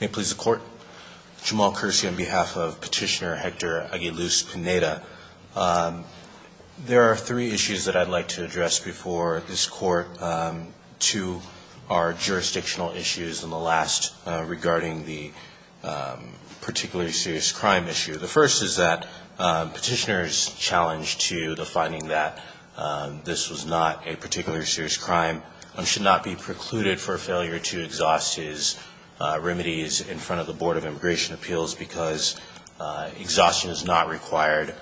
May it please the Court, Jamal Kersey on behalf of Petitioner Hector Aguiluz-Pineda. There are three issues that I'd like to address before this Court. Two are jurisdictional issues and the last regarding the particularly serious crime issue. The first is that Petitioner's challenge to the finding that this was not a particularly serious crime and should not be precluded for failure to exhaust his remedies in front of the Board of Immigration Appeals because exhaustion is not required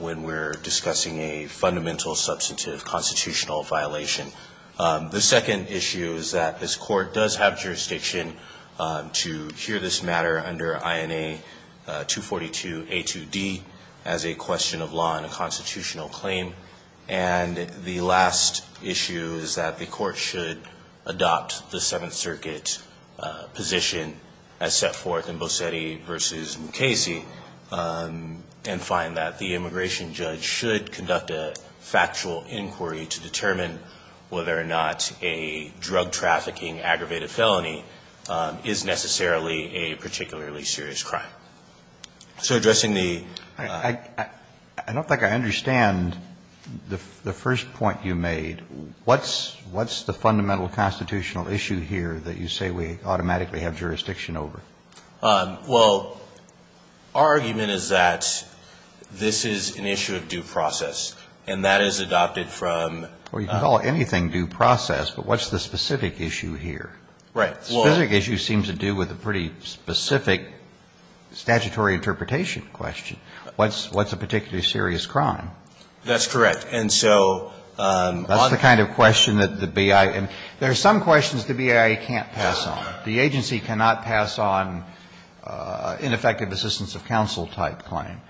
when we're discussing a fundamental substantive constitutional violation. The second issue is that this Court does have jurisdiction to hear this matter under INA 242 A2D as a question of law and a constitutional claim. And the last issue is that the Court should adopt the Seventh Circuit position as set forth in Bosetti v. Mukasey and find that the immigration judge should conduct a factual inquiry to determine whether or not a drug trafficking aggravated felony is necessarily a particularly serious crime. So addressing the ---- I don't think I understand the first point you made. What's the fundamental constitutional issue here that you say we automatically have jurisdiction over? Well, our argument is that this is an issue of due process, and that is adopted from ---- Well, you can call anything due process, but what's the specific issue here? Right. The specific issue seems to do with a pretty specific statutory interpretation question. What's a particularly serious crime? That's correct. And so on the ---- That's the kind of question that the BIA ---- There are some questions the BIA can't pass on. The agency cannot pass on ineffective assistance of counsel-type claim.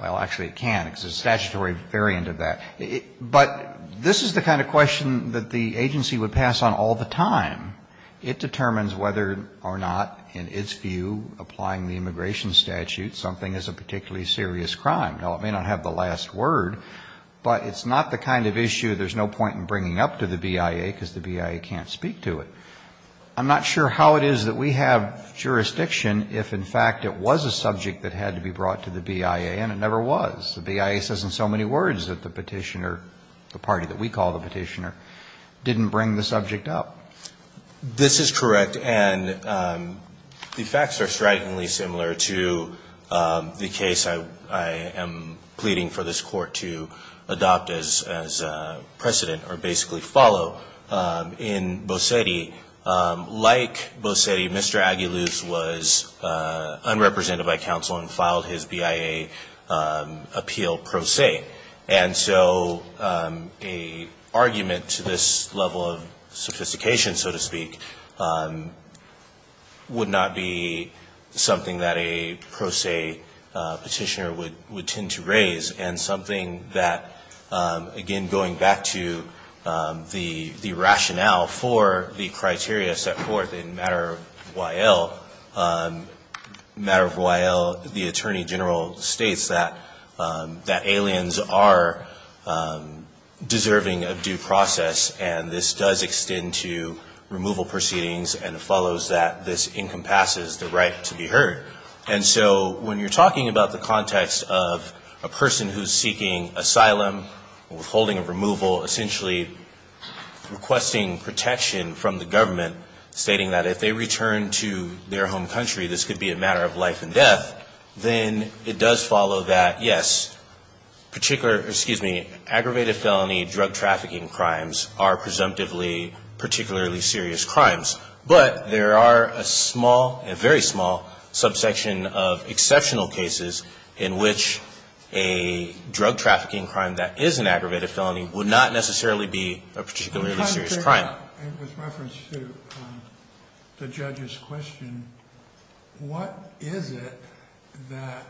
Well, actually, it can, because it's a statutory variant of that. But this is the kind of question that the agency would pass on all the time. It determines whether or not, in its view, applying the immigration statute, something is a particularly serious crime. Now, it may not have the last word, but it's not the kind of issue there's no point in bringing up to the BIA, because the BIA can't speak to it. I'm not sure how it is that we have jurisdiction if, in fact, it was a subject that had to be brought to the BIA, and it never was. The BIA says in so many words that the petitioner, the party that we call the petitioner, didn't bring the subject up. This is correct. And the facts are strikingly similar to the case I am pleading for this Court to adopt as precedent or basically follow in Bosetti. Like Bosetti, Mr. Aguiluz was unrepresented by counsel and filed his BIA appeal pro se. And so an argument to this level of sophistication, so to speak, would not be something that a pro se petitioner would tend to raise and something that, again, going back to the rationale for the criteria set forth in matter of Y.L., matter of Y.L., the attorney general states that aliens are deserving of due process, and this does extend to removal proceedings and follows that this encompasses the right to be heard. And so when you're talking about the context of a person who's seeking asylum, withholding of removal, essentially requesting protection from the government, stating that if they return to their home country, this could be a matter of life and death, then it does follow that, yes, particular, excuse me, aggravated felony drug trafficking crimes are presumptively particularly serious crimes. But there are a small, a very small, subsection of exceptional cases in which a drug trafficking crime that is an aggravated felony would not necessarily be a particularly serious crime. With reference to the judge's question, what is it that,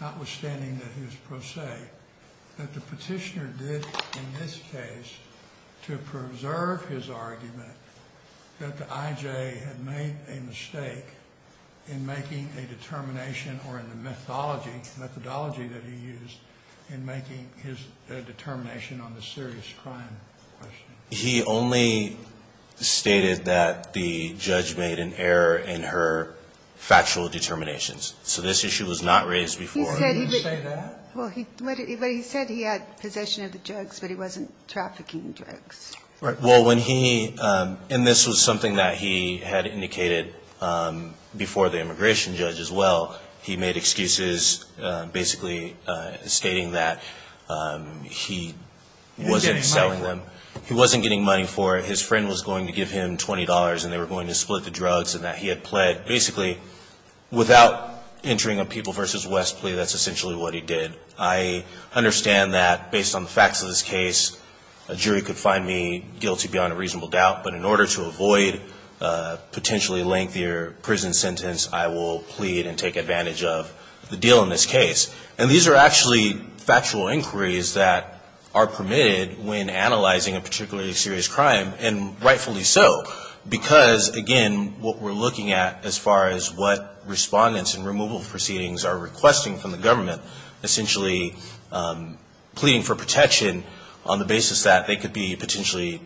notwithstanding that he was pro se, that the petitioner did in this case to preserve his argument that the I.J. had made a mistake in making a determination or in the methodology that he used in making his determination on the serious crime question? He only stated that the judge made an error in her factual determinations. So this issue was not raised before. He didn't say that? Well, he said he had possession of the drugs, but he wasn't trafficking drugs. Well, when he, and this was something that he had indicated before the immigration judge as well, he made excuses basically stating that he wasn't selling them. He wasn't getting money for it. His friend was going to give him $20, and they were going to split the drugs, and that he had pled basically without entering a People v. West plea. That's essentially what he did. I understand that based on the facts of this case, a jury could find me guilty beyond a reasonable doubt, but in order to avoid a potentially lengthier prison sentence, I will plead and take advantage of the deal in this case. And these are actually factual inquiries that are permitted when analyzing a particularly serious crime, and rightfully so because, again, what we're looking at as far as what respondents in removal proceedings are requesting from the government, essentially pleading for protection on the basis that they could be potentially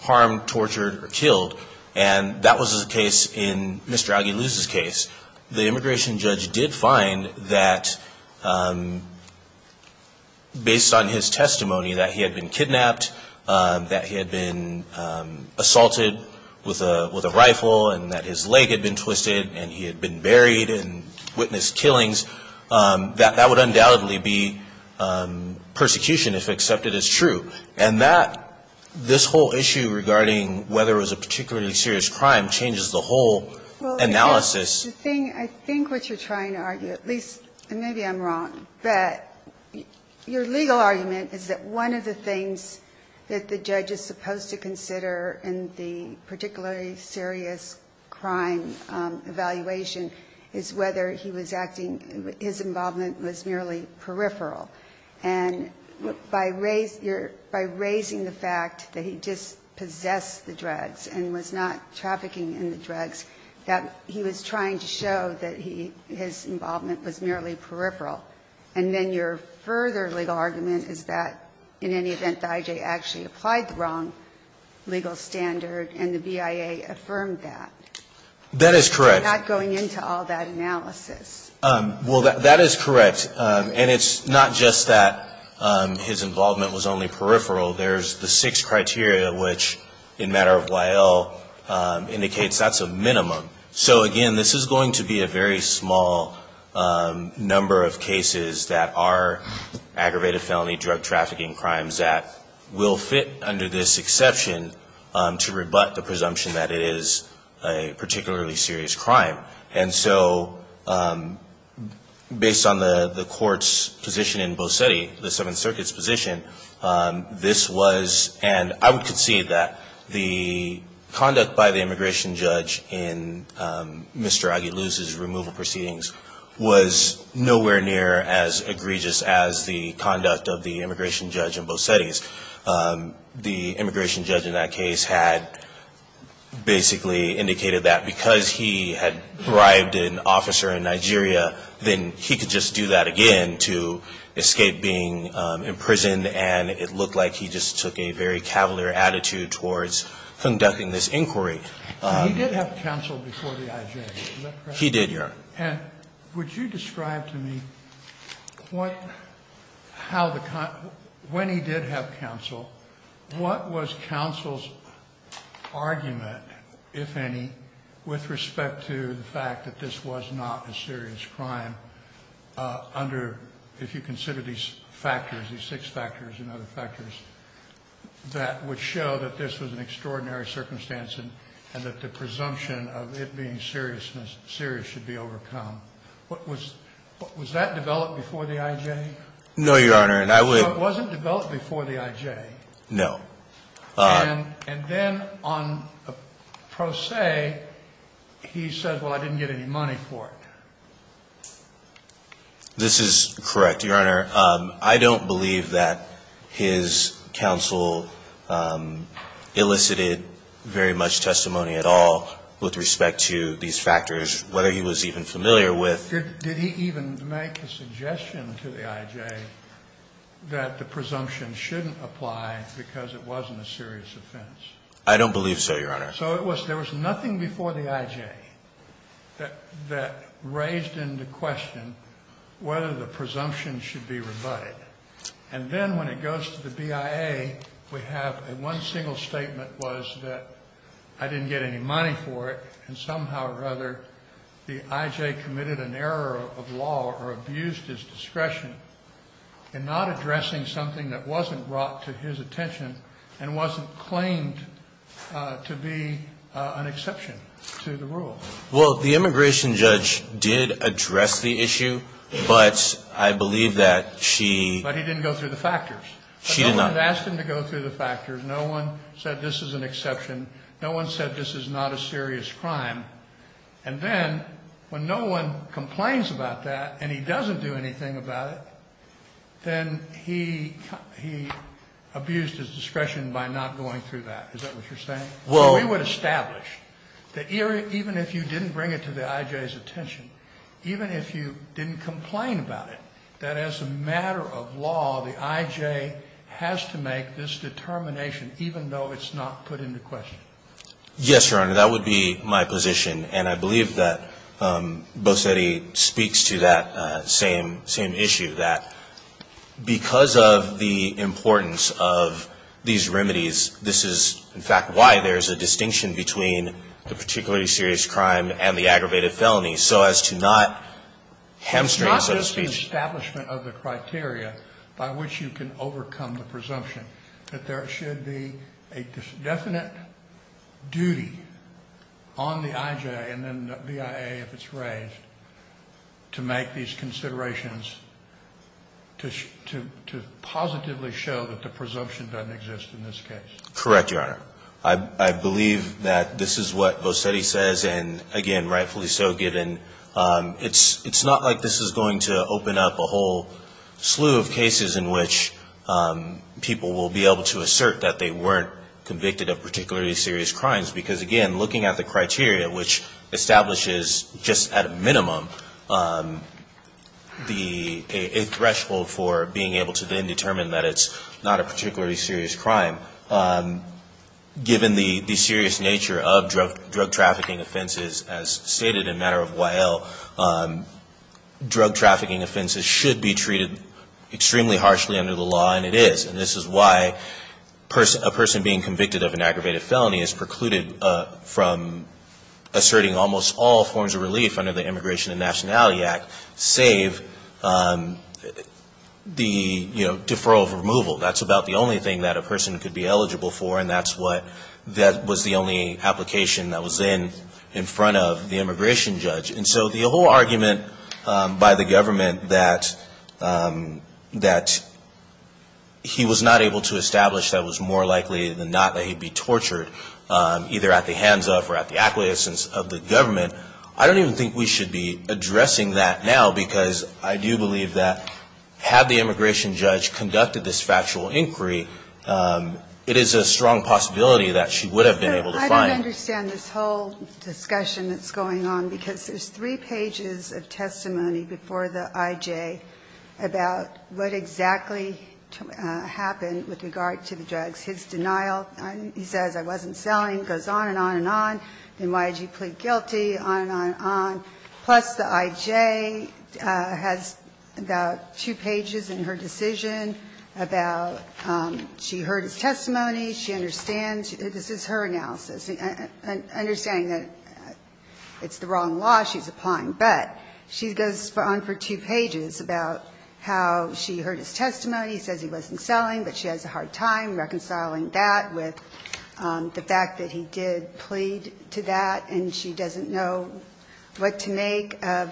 harmed, tortured, or killed. And that was the case in Mr. Aggie Luce's case. The immigration judge did find that based on his testimony that he had been kidnapped, that he had been assaulted with a rifle, and that his leg had been twisted, and he had been buried and witnessed killings, that that would undoubtedly be persecution if accepted as true. And that, this whole issue regarding whether it was a particularly serious crime changes the whole analysis. Ginsburg. I think what you're trying to argue, at least, and maybe I'm wrong, but your legal argument is that one of the things that the judge is supposed to consider in the particularly serious crime evaluation is whether he was acting, his involvement was merely peripheral. And by raising the fact that he just possessed the drugs and was not trafficking in the drugs, that he was trying to show that he, his involvement was merely peripheral. And then your further legal argument is that in any event that I.J. actually applied the wrong legal standard and the BIA affirmed that. That is correct. Without going into all that analysis. Well, that is correct. And it's not just that his involvement was only peripheral. There's the six criteria which, in matter of Y.L., indicates that's a minimum. So, again, this is going to be a very small number of cases that are aggravated crimes that will fit under this exception to rebut the presumption that it is a particularly serious crime. And so based on the court's position in Bosetti, the Seventh Circuit's position, this was, and I would concede that, the conduct by the immigration judge in Mr. Aguiluz's removal proceedings was nowhere near as egregious as the conduct by the immigration judge in Bosetti's. The immigration judge in that case had basically indicated that because he had bribed an officer in Nigeria, then he could just do that again to escape being imprisoned, and it looked like he just took a very cavalier attitude towards conducting this inquiry. He did have counsel before the I.J., is that correct? He did, yes. And would you describe to me what, how the, when he did have counsel, what was counsel's argument, if any, with respect to the fact that this was not a serious crime under, if you consider these factors, these six factors and other factors, that would show that this was an extraordinary circumstance and that the presumption of it being serious should be overcome. Was that developed before the I.J.? No, Your Honor. So it wasn't developed before the I.J.? No. And then on pro se, he said, well, I didn't get any money for it. This is correct, Your Honor. I don't believe that his counsel elicited very much testimony at all with respect to these factors, whether he was even familiar with. Did he even make a suggestion to the I.J. that the presumption shouldn't apply because it wasn't a serious offense? I don't believe so, Your Honor. So it was, there was nothing before the I.J. that raised into question whether the presumption should be rebutted. And then when it goes to the BIA, we have one single statement was that I didn't get any money for it, and somehow or other the I.J. committed an error of law or abused his discretion in not addressing something that wasn't brought to his attention and wasn't claimed to be an exception to the rule. Well, the immigration judge did address the issue, but I believe that she... But he didn't go through the factors. She did not. No one asked him to go through the factors. No one said this is an exception. No one said this is not a serious crime. And then when no one complains about that and he doesn't do anything about it, then he abused his discretion by not going through that. Is that what you're saying? So we would establish that even if you didn't bring it to the I.J.'s attention, even if you didn't complain about it, that as a matter of law, the I.J. has to make this determination even though it's not put into question. Yes, Your Honor. That would be my position. And I believe that Bosetti speaks to that same issue, that because of the importance of these remedies, this is, in fact, why there's a distinction between the particularly serious crime and the aggravated felony. So as to not hamstring, so to speak... It's not just the establishment of the criteria by which you can overcome the presumption that there should be a definite duty on the I.J. and then the BIA, if it's raised, to make these considerations to positively show that the presumption doesn't exist in this case. Correct, Your Honor. I believe that this is what Bosetti says and, again, rightfully so, given it's not like this is going to open up a whole slew of cases in which people will be able to assert that they weren't convicted of particularly serious crimes because, again, looking at the criteria, which establishes just at a minimum a threshold for being able to then determine that it's not a particularly serious crime, given the serious nature of drug trafficking offenses, as stated in matter of Y.L., drug trafficking offenses should be treated extremely harshly under the law, and it is, and this is why a person being convicted of an aggravated felony is precluded from asserting almost all forms of relief under the Immigration and Nationality Act, save the, you know, deferral of removal. That's about the only thing that a person could be eligible for, and that's what, that was the only application that was in in front of the immigration judge. And so the whole argument by the government that he was not able to establish that he was more likely than not that he would be tortured, either at the hands of or at the acquiescence of the government, I don't even think we should be addressing that now because I do believe that had the immigration judge conducted this factual inquiry, it is a strong possibility that she would have been able to find. Ginsburg, I don't understand this whole discussion that's going on, because there's three pages of testimony before the I.J. about what exactly happened with regard to the drugs. His denial, he says, I wasn't selling, goes on and on and on. The NYG plead guilty, on and on and on. Plus the I.J. has about two pages in her decision about she heard his testimony, she understands, this is her analysis, understanding that it's the wrong law she's applying, but she goes on for two pages about how she heard his testimony, he says he wasn't selling, but she has a hard time reconciling that with the fact that he did plead to that and she doesn't know what to make of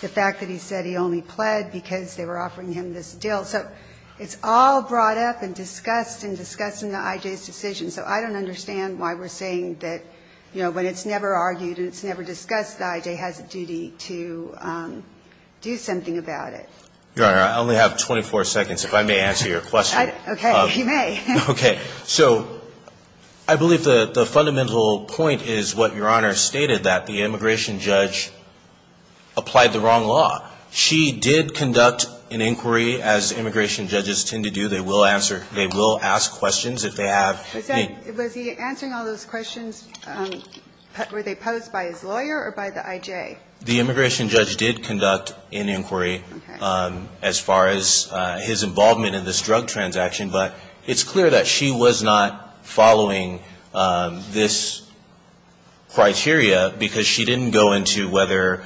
the fact that he said he only pled because they were offering him this deal. So it's all brought up and discussed and discussed in the I.J.'s decision. So I don't understand why we're saying that, you know, when it's never argued and it's never discussed, the I.J. has a duty to do something about it. Your Honor, I only have 24 seconds. If I may answer your question. Okay. You may. Okay. So I believe the fundamental point is what Your Honor stated, that the immigration judge applied the wrong law. She did conduct an inquiry, as immigration judges tend to do, they will answer they will ask questions if they have Was he answering all those questions, were they posed by his lawyer or by the I.J.? The immigration judge did conduct an inquiry as far as his involvement in this drug transaction, but it's clear that she was not following this criteria because she didn't go into whether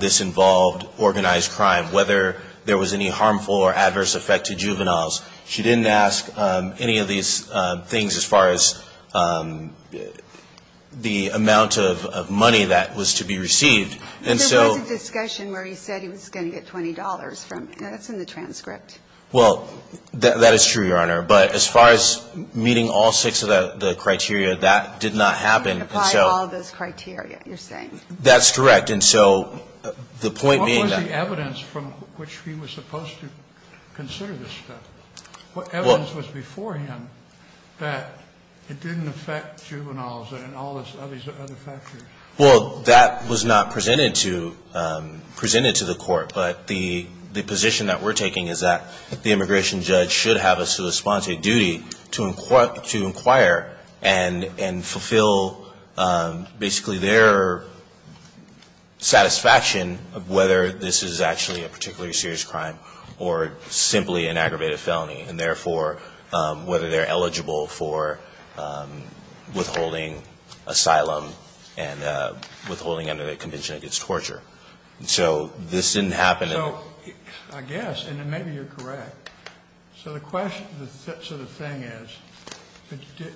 this involved organized crime, whether there was any harmful or adverse effect to juveniles. She didn't ask any of these things as far as the amount of money that was to be received. There was a discussion where he said he was going to get $20 from him. That's in the transcript. Well, that is true, Your Honor. But as far as meeting all six of the criteria, that did not happen. He didn't apply all those criteria, you're saying. That's correct. And so the point being that What was the evidence from which he was supposed to consider this stuff? What evidence was before him that it didn't affect juveniles and all these other factors? Well, that was not presented to the court. But the position that we're taking is that the immigration judge should have a sort of authority to inquire and fulfill basically their satisfaction of whether this is actually a particularly serious crime or simply an aggravated felony, and therefore whether they're eligible for withholding asylum and withholding under the Convention Against Torture. So this didn't happen. So I guess, and maybe you're correct. So the question, so the thing is,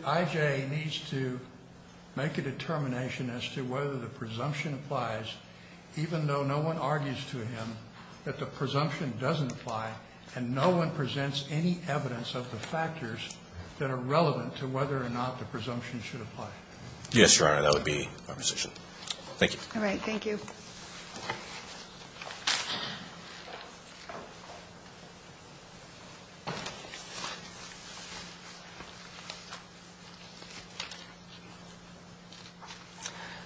I.J. needs to make a determination as to whether the presumption applies even though no one argues to him that the presumption doesn't apply and no one presents any evidence of the factors that are relevant to whether or not the presumption should apply. Yes, Your Honor. That would be my position. Thank you. Thank you.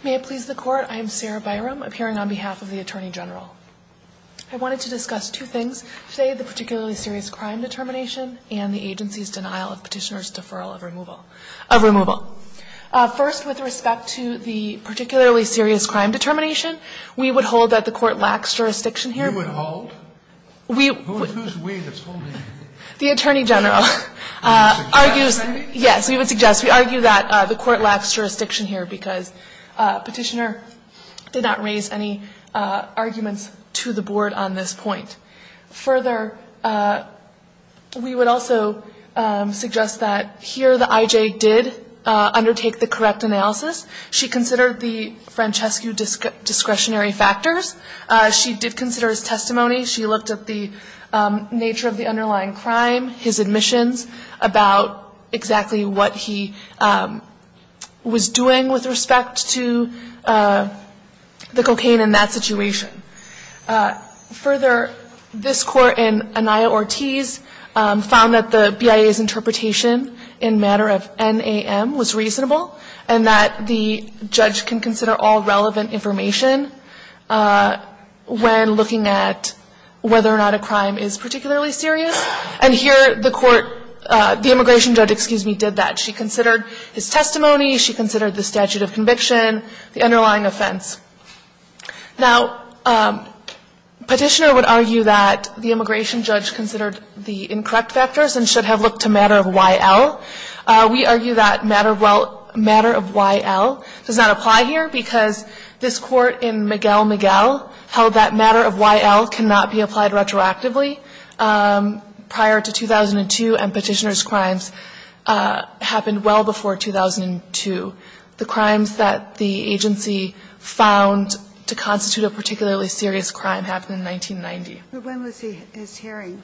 May it please the Court. I am Sarah Byram, appearing on behalf of the Attorney General. I wanted to discuss two things today, the particularly serious crime determination and the agency's denial of Petitioner's deferral of removal of removal. First, with respect to the particularly serious crime determination, we would hold that the Court lacks jurisdiction here. You would hold? We would. Who's we that's holding? The Attorney General. You would suggest, maybe? Yes, we would suggest. We argue that the Court lacks jurisdiction here because Petitioner did not raise any arguments to the Board on this point. Further, we would also suggest that here the I.J. did undertake the correct analysis. She considered the Francescu discretionary factors. She did consider his testimony. She looked at the nature of the underlying crime, his admissions, about exactly what he was doing with respect to the cocaine in that situation. Further, this Court in Anaya Ortiz found that the BIA's interpretation in matter of NAM was reasonable and that the judge can consider all relevant information when looking at whether or not a crime is particularly serious. And here the Court, the immigration judge, excuse me, did that. She considered his testimony. She considered the statute of conviction, the underlying offense. Now, Petitioner would argue that the immigration judge considered the incorrect factors and should have looked to matter of Y.L. We argue that matter of Y.L. does not apply here because this Court in Miguel Miguel held that matter of Y.L. cannot be applied retroactively prior to 2002 and Petitioner's crimes happened well before 2002. The crimes that the agency found to constitute a particularly serious crime happened in 1990. But when was his hearing?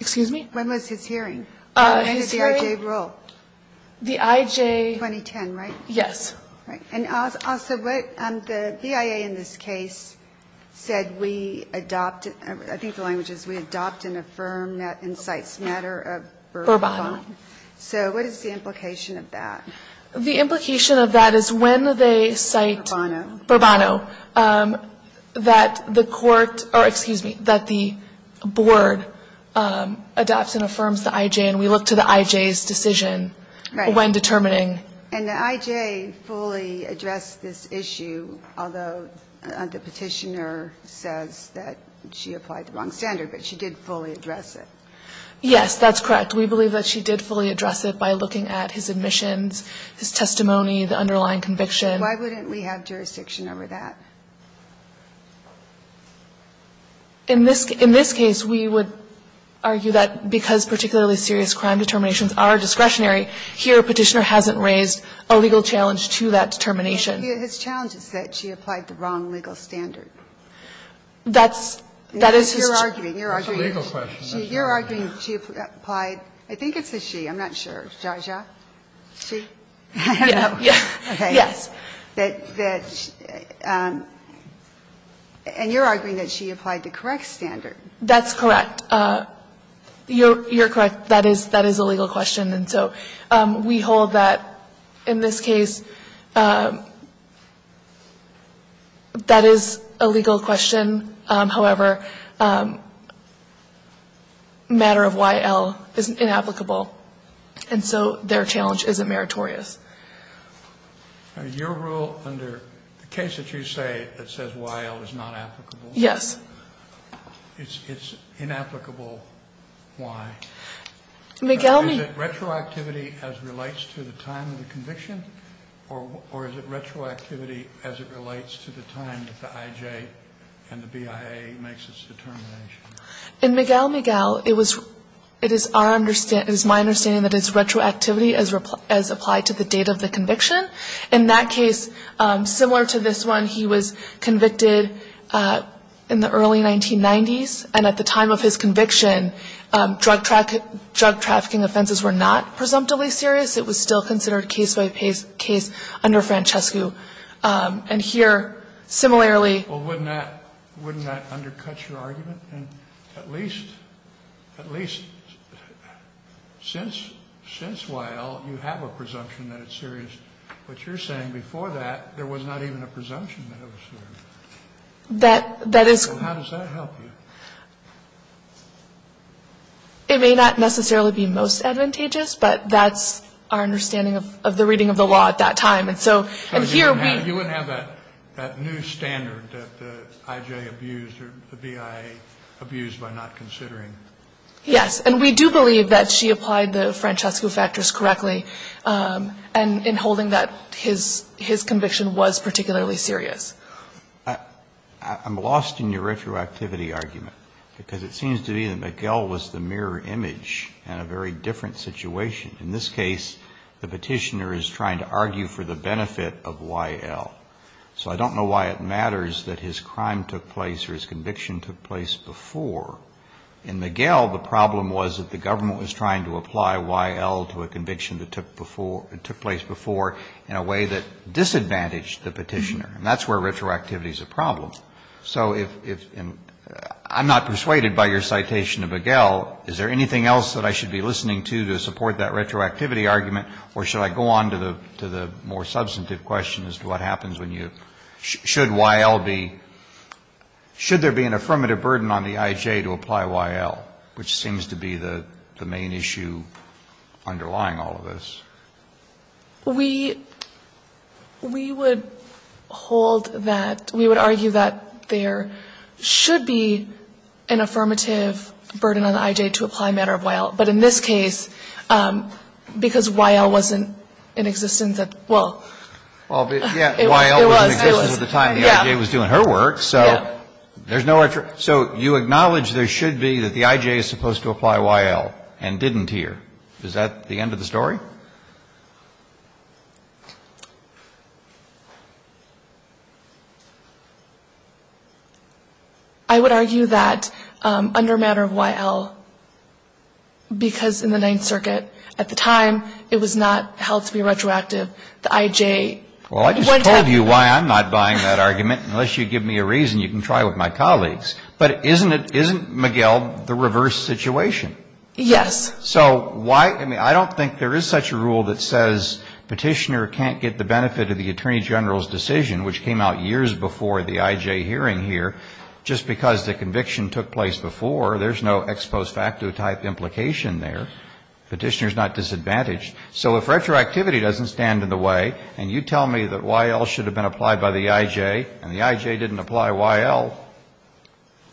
Excuse me? When was his hearing? When did the I.J. rule? The I.J. 2010, right? Yes. Right. And also, what the BIA in this case said we adopt, I think the language is we adopt and affirm that incites matter of verbatim. Verbatim. So what is the implication of that? The implication of that is when they cite verbatim that the court or, excuse me, that the board adopts and affirms the I.J. and we look to the I.J.'s decision when determining. And the I.J. fully addressed this issue, although the Petitioner says that she applied the wrong standard, but she did fully address it. Yes, that's correct. We believe that she did fully address it by looking at his admissions, his testimony, the underlying conviction. Why wouldn't we have jurisdiction over that? In this case, we would argue that because particularly serious crime determinations are discretionary, here Petitioner hasn't raised a legal challenge to that determination. His challenge is that she applied the wrong legal standard. That's, that is his. That's a legal question. You're arguing she applied, I think it's a she. I'm not sure. Jaja? She? Yes. And you're arguing that she applied the correct standard. That's correct. You're correct. That is a legal question. And so we hold that in this case that is a legal question. However, matter of Y.L. is inapplicable. And so their challenge isn't meritorious. Now, your rule under the case that you say that says Y.L. is not applicable? Yes. It's inapplicable why? Miguel, me. Is it retroactivity as it relates to the time of the conviction? Or is it retroactivity as it relates to the time that the I.J. and the BIA makes its determination? In Miguel, Miguel, it is my understanding that it's retroactivity as applied to the date of the conviction. In that case, similar to this one, he was convicted in the early 1990s. And at the time of his conviction, drug trafficking offenses were not presumptively serious. It was still considered case-by-case under Francescu. And here, similarly ---- Well, wouldn't that undercut your argument? At least since Y.L., you have a presumption that it's serious. But you're saying before that, there was not even a presumption that it was serious. That is ---- So how does that help you? It may not necessarily be most advantageous, but that's our understanding of the reading of the law at that time. And so here we ---- You wouldn't have that new standard that the I.J. abused or the BIA abused by not considering. Yes. And we do believe that she applied the Francescu factors correctly in holding that his conviction was particularly serious. I'm lost in your retroactivity argument. Because it seems to me that McGill was the mirror image in a very different situation. In this case, the petitioner is trying to argue for the benefit of Y.L. So I don't know why it matters that his crime took place or his conviction took place before. In McGill, the problem was that the government was trying to apply Y.L. to a conviction that took place before in a way that disadvantaged the petitioner. And that's where retroactivity is a problem. So if ---- I'm not persuaded by your citation of McGill. Is there anything else that I should be listening to to support that retroactivity argument, or should I go on to the more substantive question as to what happens when you ---- Should Y.L. be ---- should there be an affirmative burden on the I.J. to apply Y.L., which seems to be the main issue underlying all of this? We ---- we would hold that ---- we would argue that there should be an affirmative burden on the I.J. to apply a matter of Y.L. But in this case, because Y.L. wasn't in existence at the time. Well, it was. It was. Y.L. wasn't in existence at the time. The I.J. was doing her work. So there's no ---- so you acknowledge there should be that the I.J. is supposed to apply Y.L. and didn't here. Is that the end of the story? I would argue that under a matter of Y.L., because in the Ninth Circuit at the time, it was not held to be retroactive. The I.J. ---- Well, I just told you why I'm not buying that argument. Unless you give me a reason, you can try with my colleagues. But isn't it ---- isn't McGill the reverse situation? Yes. So why ---- I mean, I don't think there is such a rule that says Petitioner can't get the benefit of the Attorney General's decision, which came out years before the I.J. hearing here, just because the conviction took place before. There's no ex post facto type implication there. Petitioner is not disadvantaged. So if retroactivity doesn't stand in the way, and you tell me that Y.L. should have been applied by the I.J., and the I.J. didn't apply Y.L.,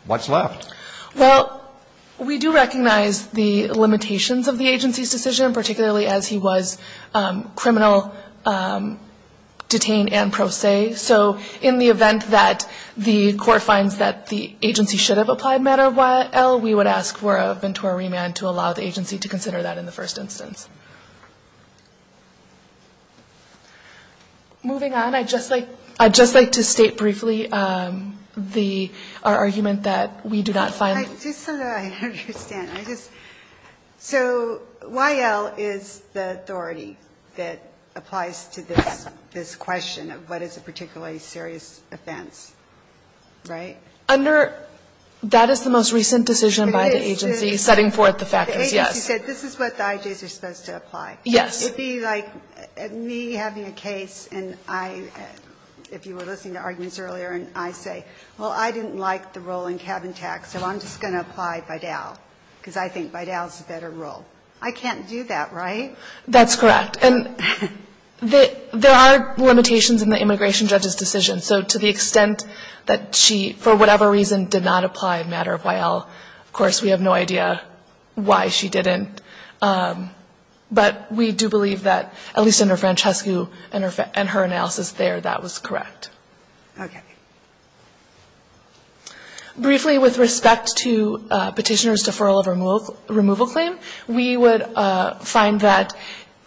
what's left? Well, we do recognize the limitations of the agency's decision, particularly as he was criminal, detained, and pro se. So in the event that the court finds that the agency should have applied matter of Y.L., we would ask for a ventura remand to allow the agency to consider that in the first instance. Moving on, I'd just like to state briefly the ---- our argument that we do not find ---- Just so that I understand. I just ---- so Y.L. is the authority that applies to this question of what is a particularly serious offense, right? Under ---- That is the most recent decision by the agency setting forth the factors, yes. The agency said this is what the I.J.'s are supposed to apply. Yes. It would be like me having a case, and I ---- if you were listening to arguments earlier, and I say, well, I didn't like the role in Cabin Tax, so I'm just going to apply Vidal, because I think Vidal is a better role. I can't do that, right? That's correct. And there are limitations in the immigration judge's decision. So to the extent that she, for whatever reason, did not apply a matter of Y.L., of course, we have no idea why she didn't. But we do believe that, at least under Francescu and her analysis there, that was correct. Okay. Briefly, with respect to Petitioner's deferral of removal claim, we would find that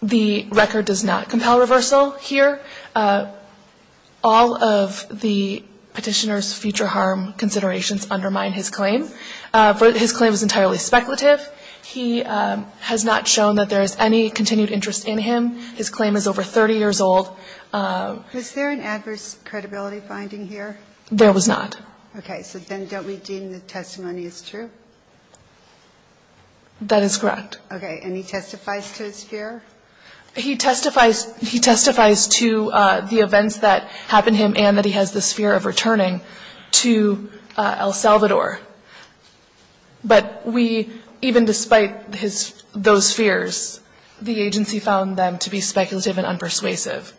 the record does not compel reversal here. All of the Petitioner's future harm considerations undermine his claim. His claim is entirely speculative. He has not shown that there is any continued interest in him. His claim is over 30 years old. Was there an adverse credibility finding here? There was not. Okay. So then don't we deem the testimony as true? That is correct. Okay. And he testifies to his fear? He testifies to the events that happened to him and that he has this fear of returning to El Salvador. But we, even despite those fears, the agency found them to be speculative and unpersuasive.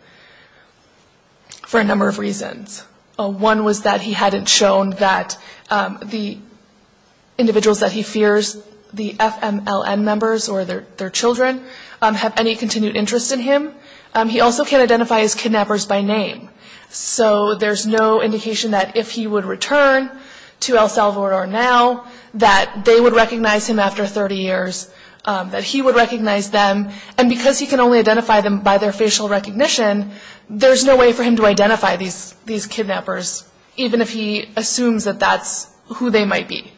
For a number of reasons. One was that he hadn't shown that the individuals that he fears, the FMLN members or their children, have any continued interest in him. He also can't identify his kidnappers by name. So there's no indication that if he would return to El Salvador now, that they would recognize him after 30 years, that he would recognize them. And because he can only identify them by their facial recognition, there's no way for him to identify these kidnappers, even if he assumes that that's who they might be.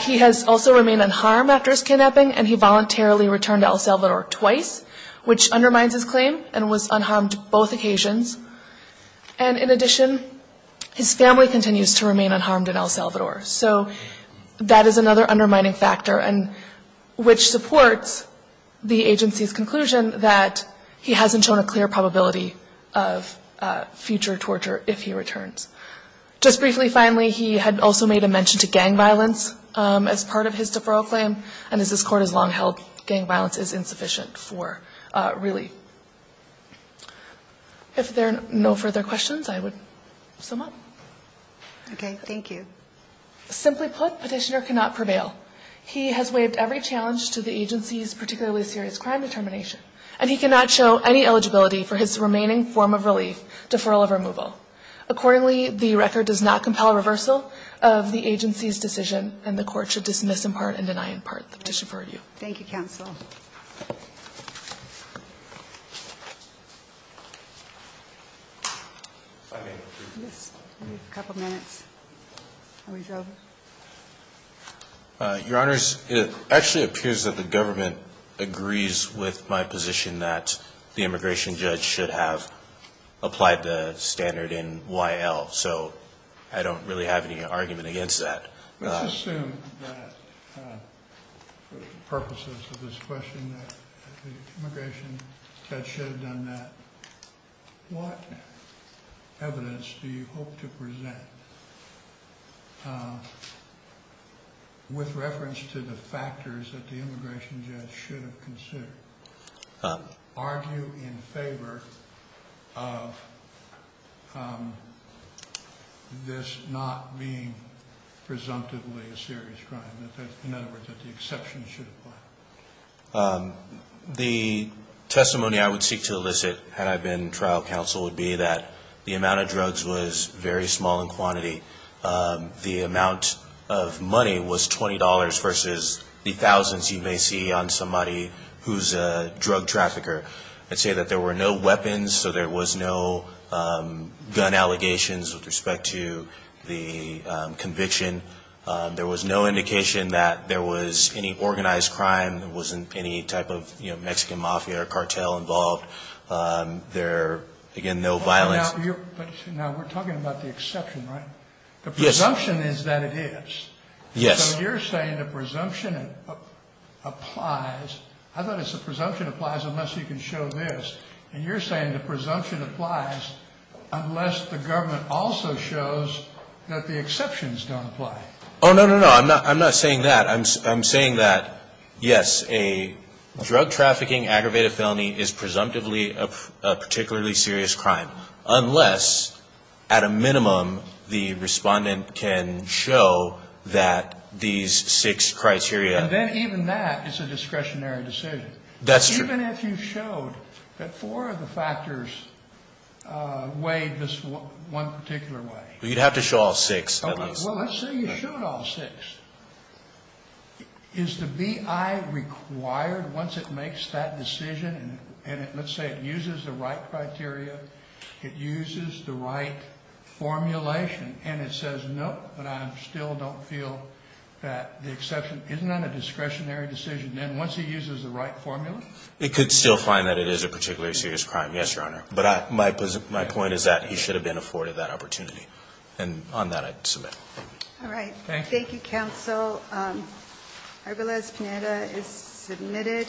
He has also remained unharmed after his kidnapping, and he voluntarily returned to El Salvador twice, which undermines his claim and was unharmed both occasions. And in addition, his family continues to remain unharmed in El Salvador. So that is another undermining factor, and which supports the agency's conclusion that he hasn't shown a clear probability of future torture if he returns. Just briefly, finally, he had also made a mention to gang violence as part of his deferral claim. And as this Court has long held, gang violence is insufficient for relief. If there are no further questions, I would sum up. Okay. Thank you. Simply put, Petitioner cannot prevail. He has waived every challenge to the agency's particularly serious crime determination, and he cannot show any eligibility for his remaining form of relief, deferral of removal. Accordingly, the record does not compel reversal of the agency's decision, and the Court should dismiss in part and deny in part the petition for review. Thank you, counsel. Your Honor, it actually appears that the government agrees with my position that the immigration judge should have applied the standard in Y.L., so I don't really have any argument against that. Let's assume that for the purposes of this question that the immigration judge should have done that. What evidence do you hope to present with reference to the factors that the immigration judge should have considered? Are you in favor of this not being presumptively a serious crime, in other words, that the exception should apply? The testimony I would seek to elicit had I been trial counsel would be that the amount of drugs was very small in quantity. The amount of money was $20 versus the thousands you may see on somebody who's a drug trafficker. I'd say that there were no weapons, so there was no gun allegations with respect to the conviction. There was no indication that there was any organized crime. There wasn't any type of Mexican mafia or cartel involved. There, again, no violence. Now, we're talking about the exception, right? Yes. The presumption is that it is. Yes. So you're saying the presumption applies. I thought it's the presumption applies unless you can show this. And you're saying the presumption applies unless the government also shows that the exceptions don't apply. Oh, no, no, no. I'm not saying that. I'm saying that, yes, a drug trafficking aggravated felony is presumptively a particularly serious crime unless, at a minimum, the respondent can show that these six criteria. And then even that is a discretionary decision. That's true. Even if you showed that four of the factors weighed this one particular way. Well, you'd have to show all six at least. Well, let's say you showed all six. Is the BI required once it makes that decision? And let's say it uses the right criteria, it uses the right formulation, and it says no, but I still don't feel that the exception isn't on a discretionary decision. Then once it uses the right formula? It could still find that it is a particularly serious crime, yes, Your Honor. But my point is that he should have been afforded that opportunity. And on that, I'd submit. All right. Thank you, counsel. Arbelez-Pineda is submitted.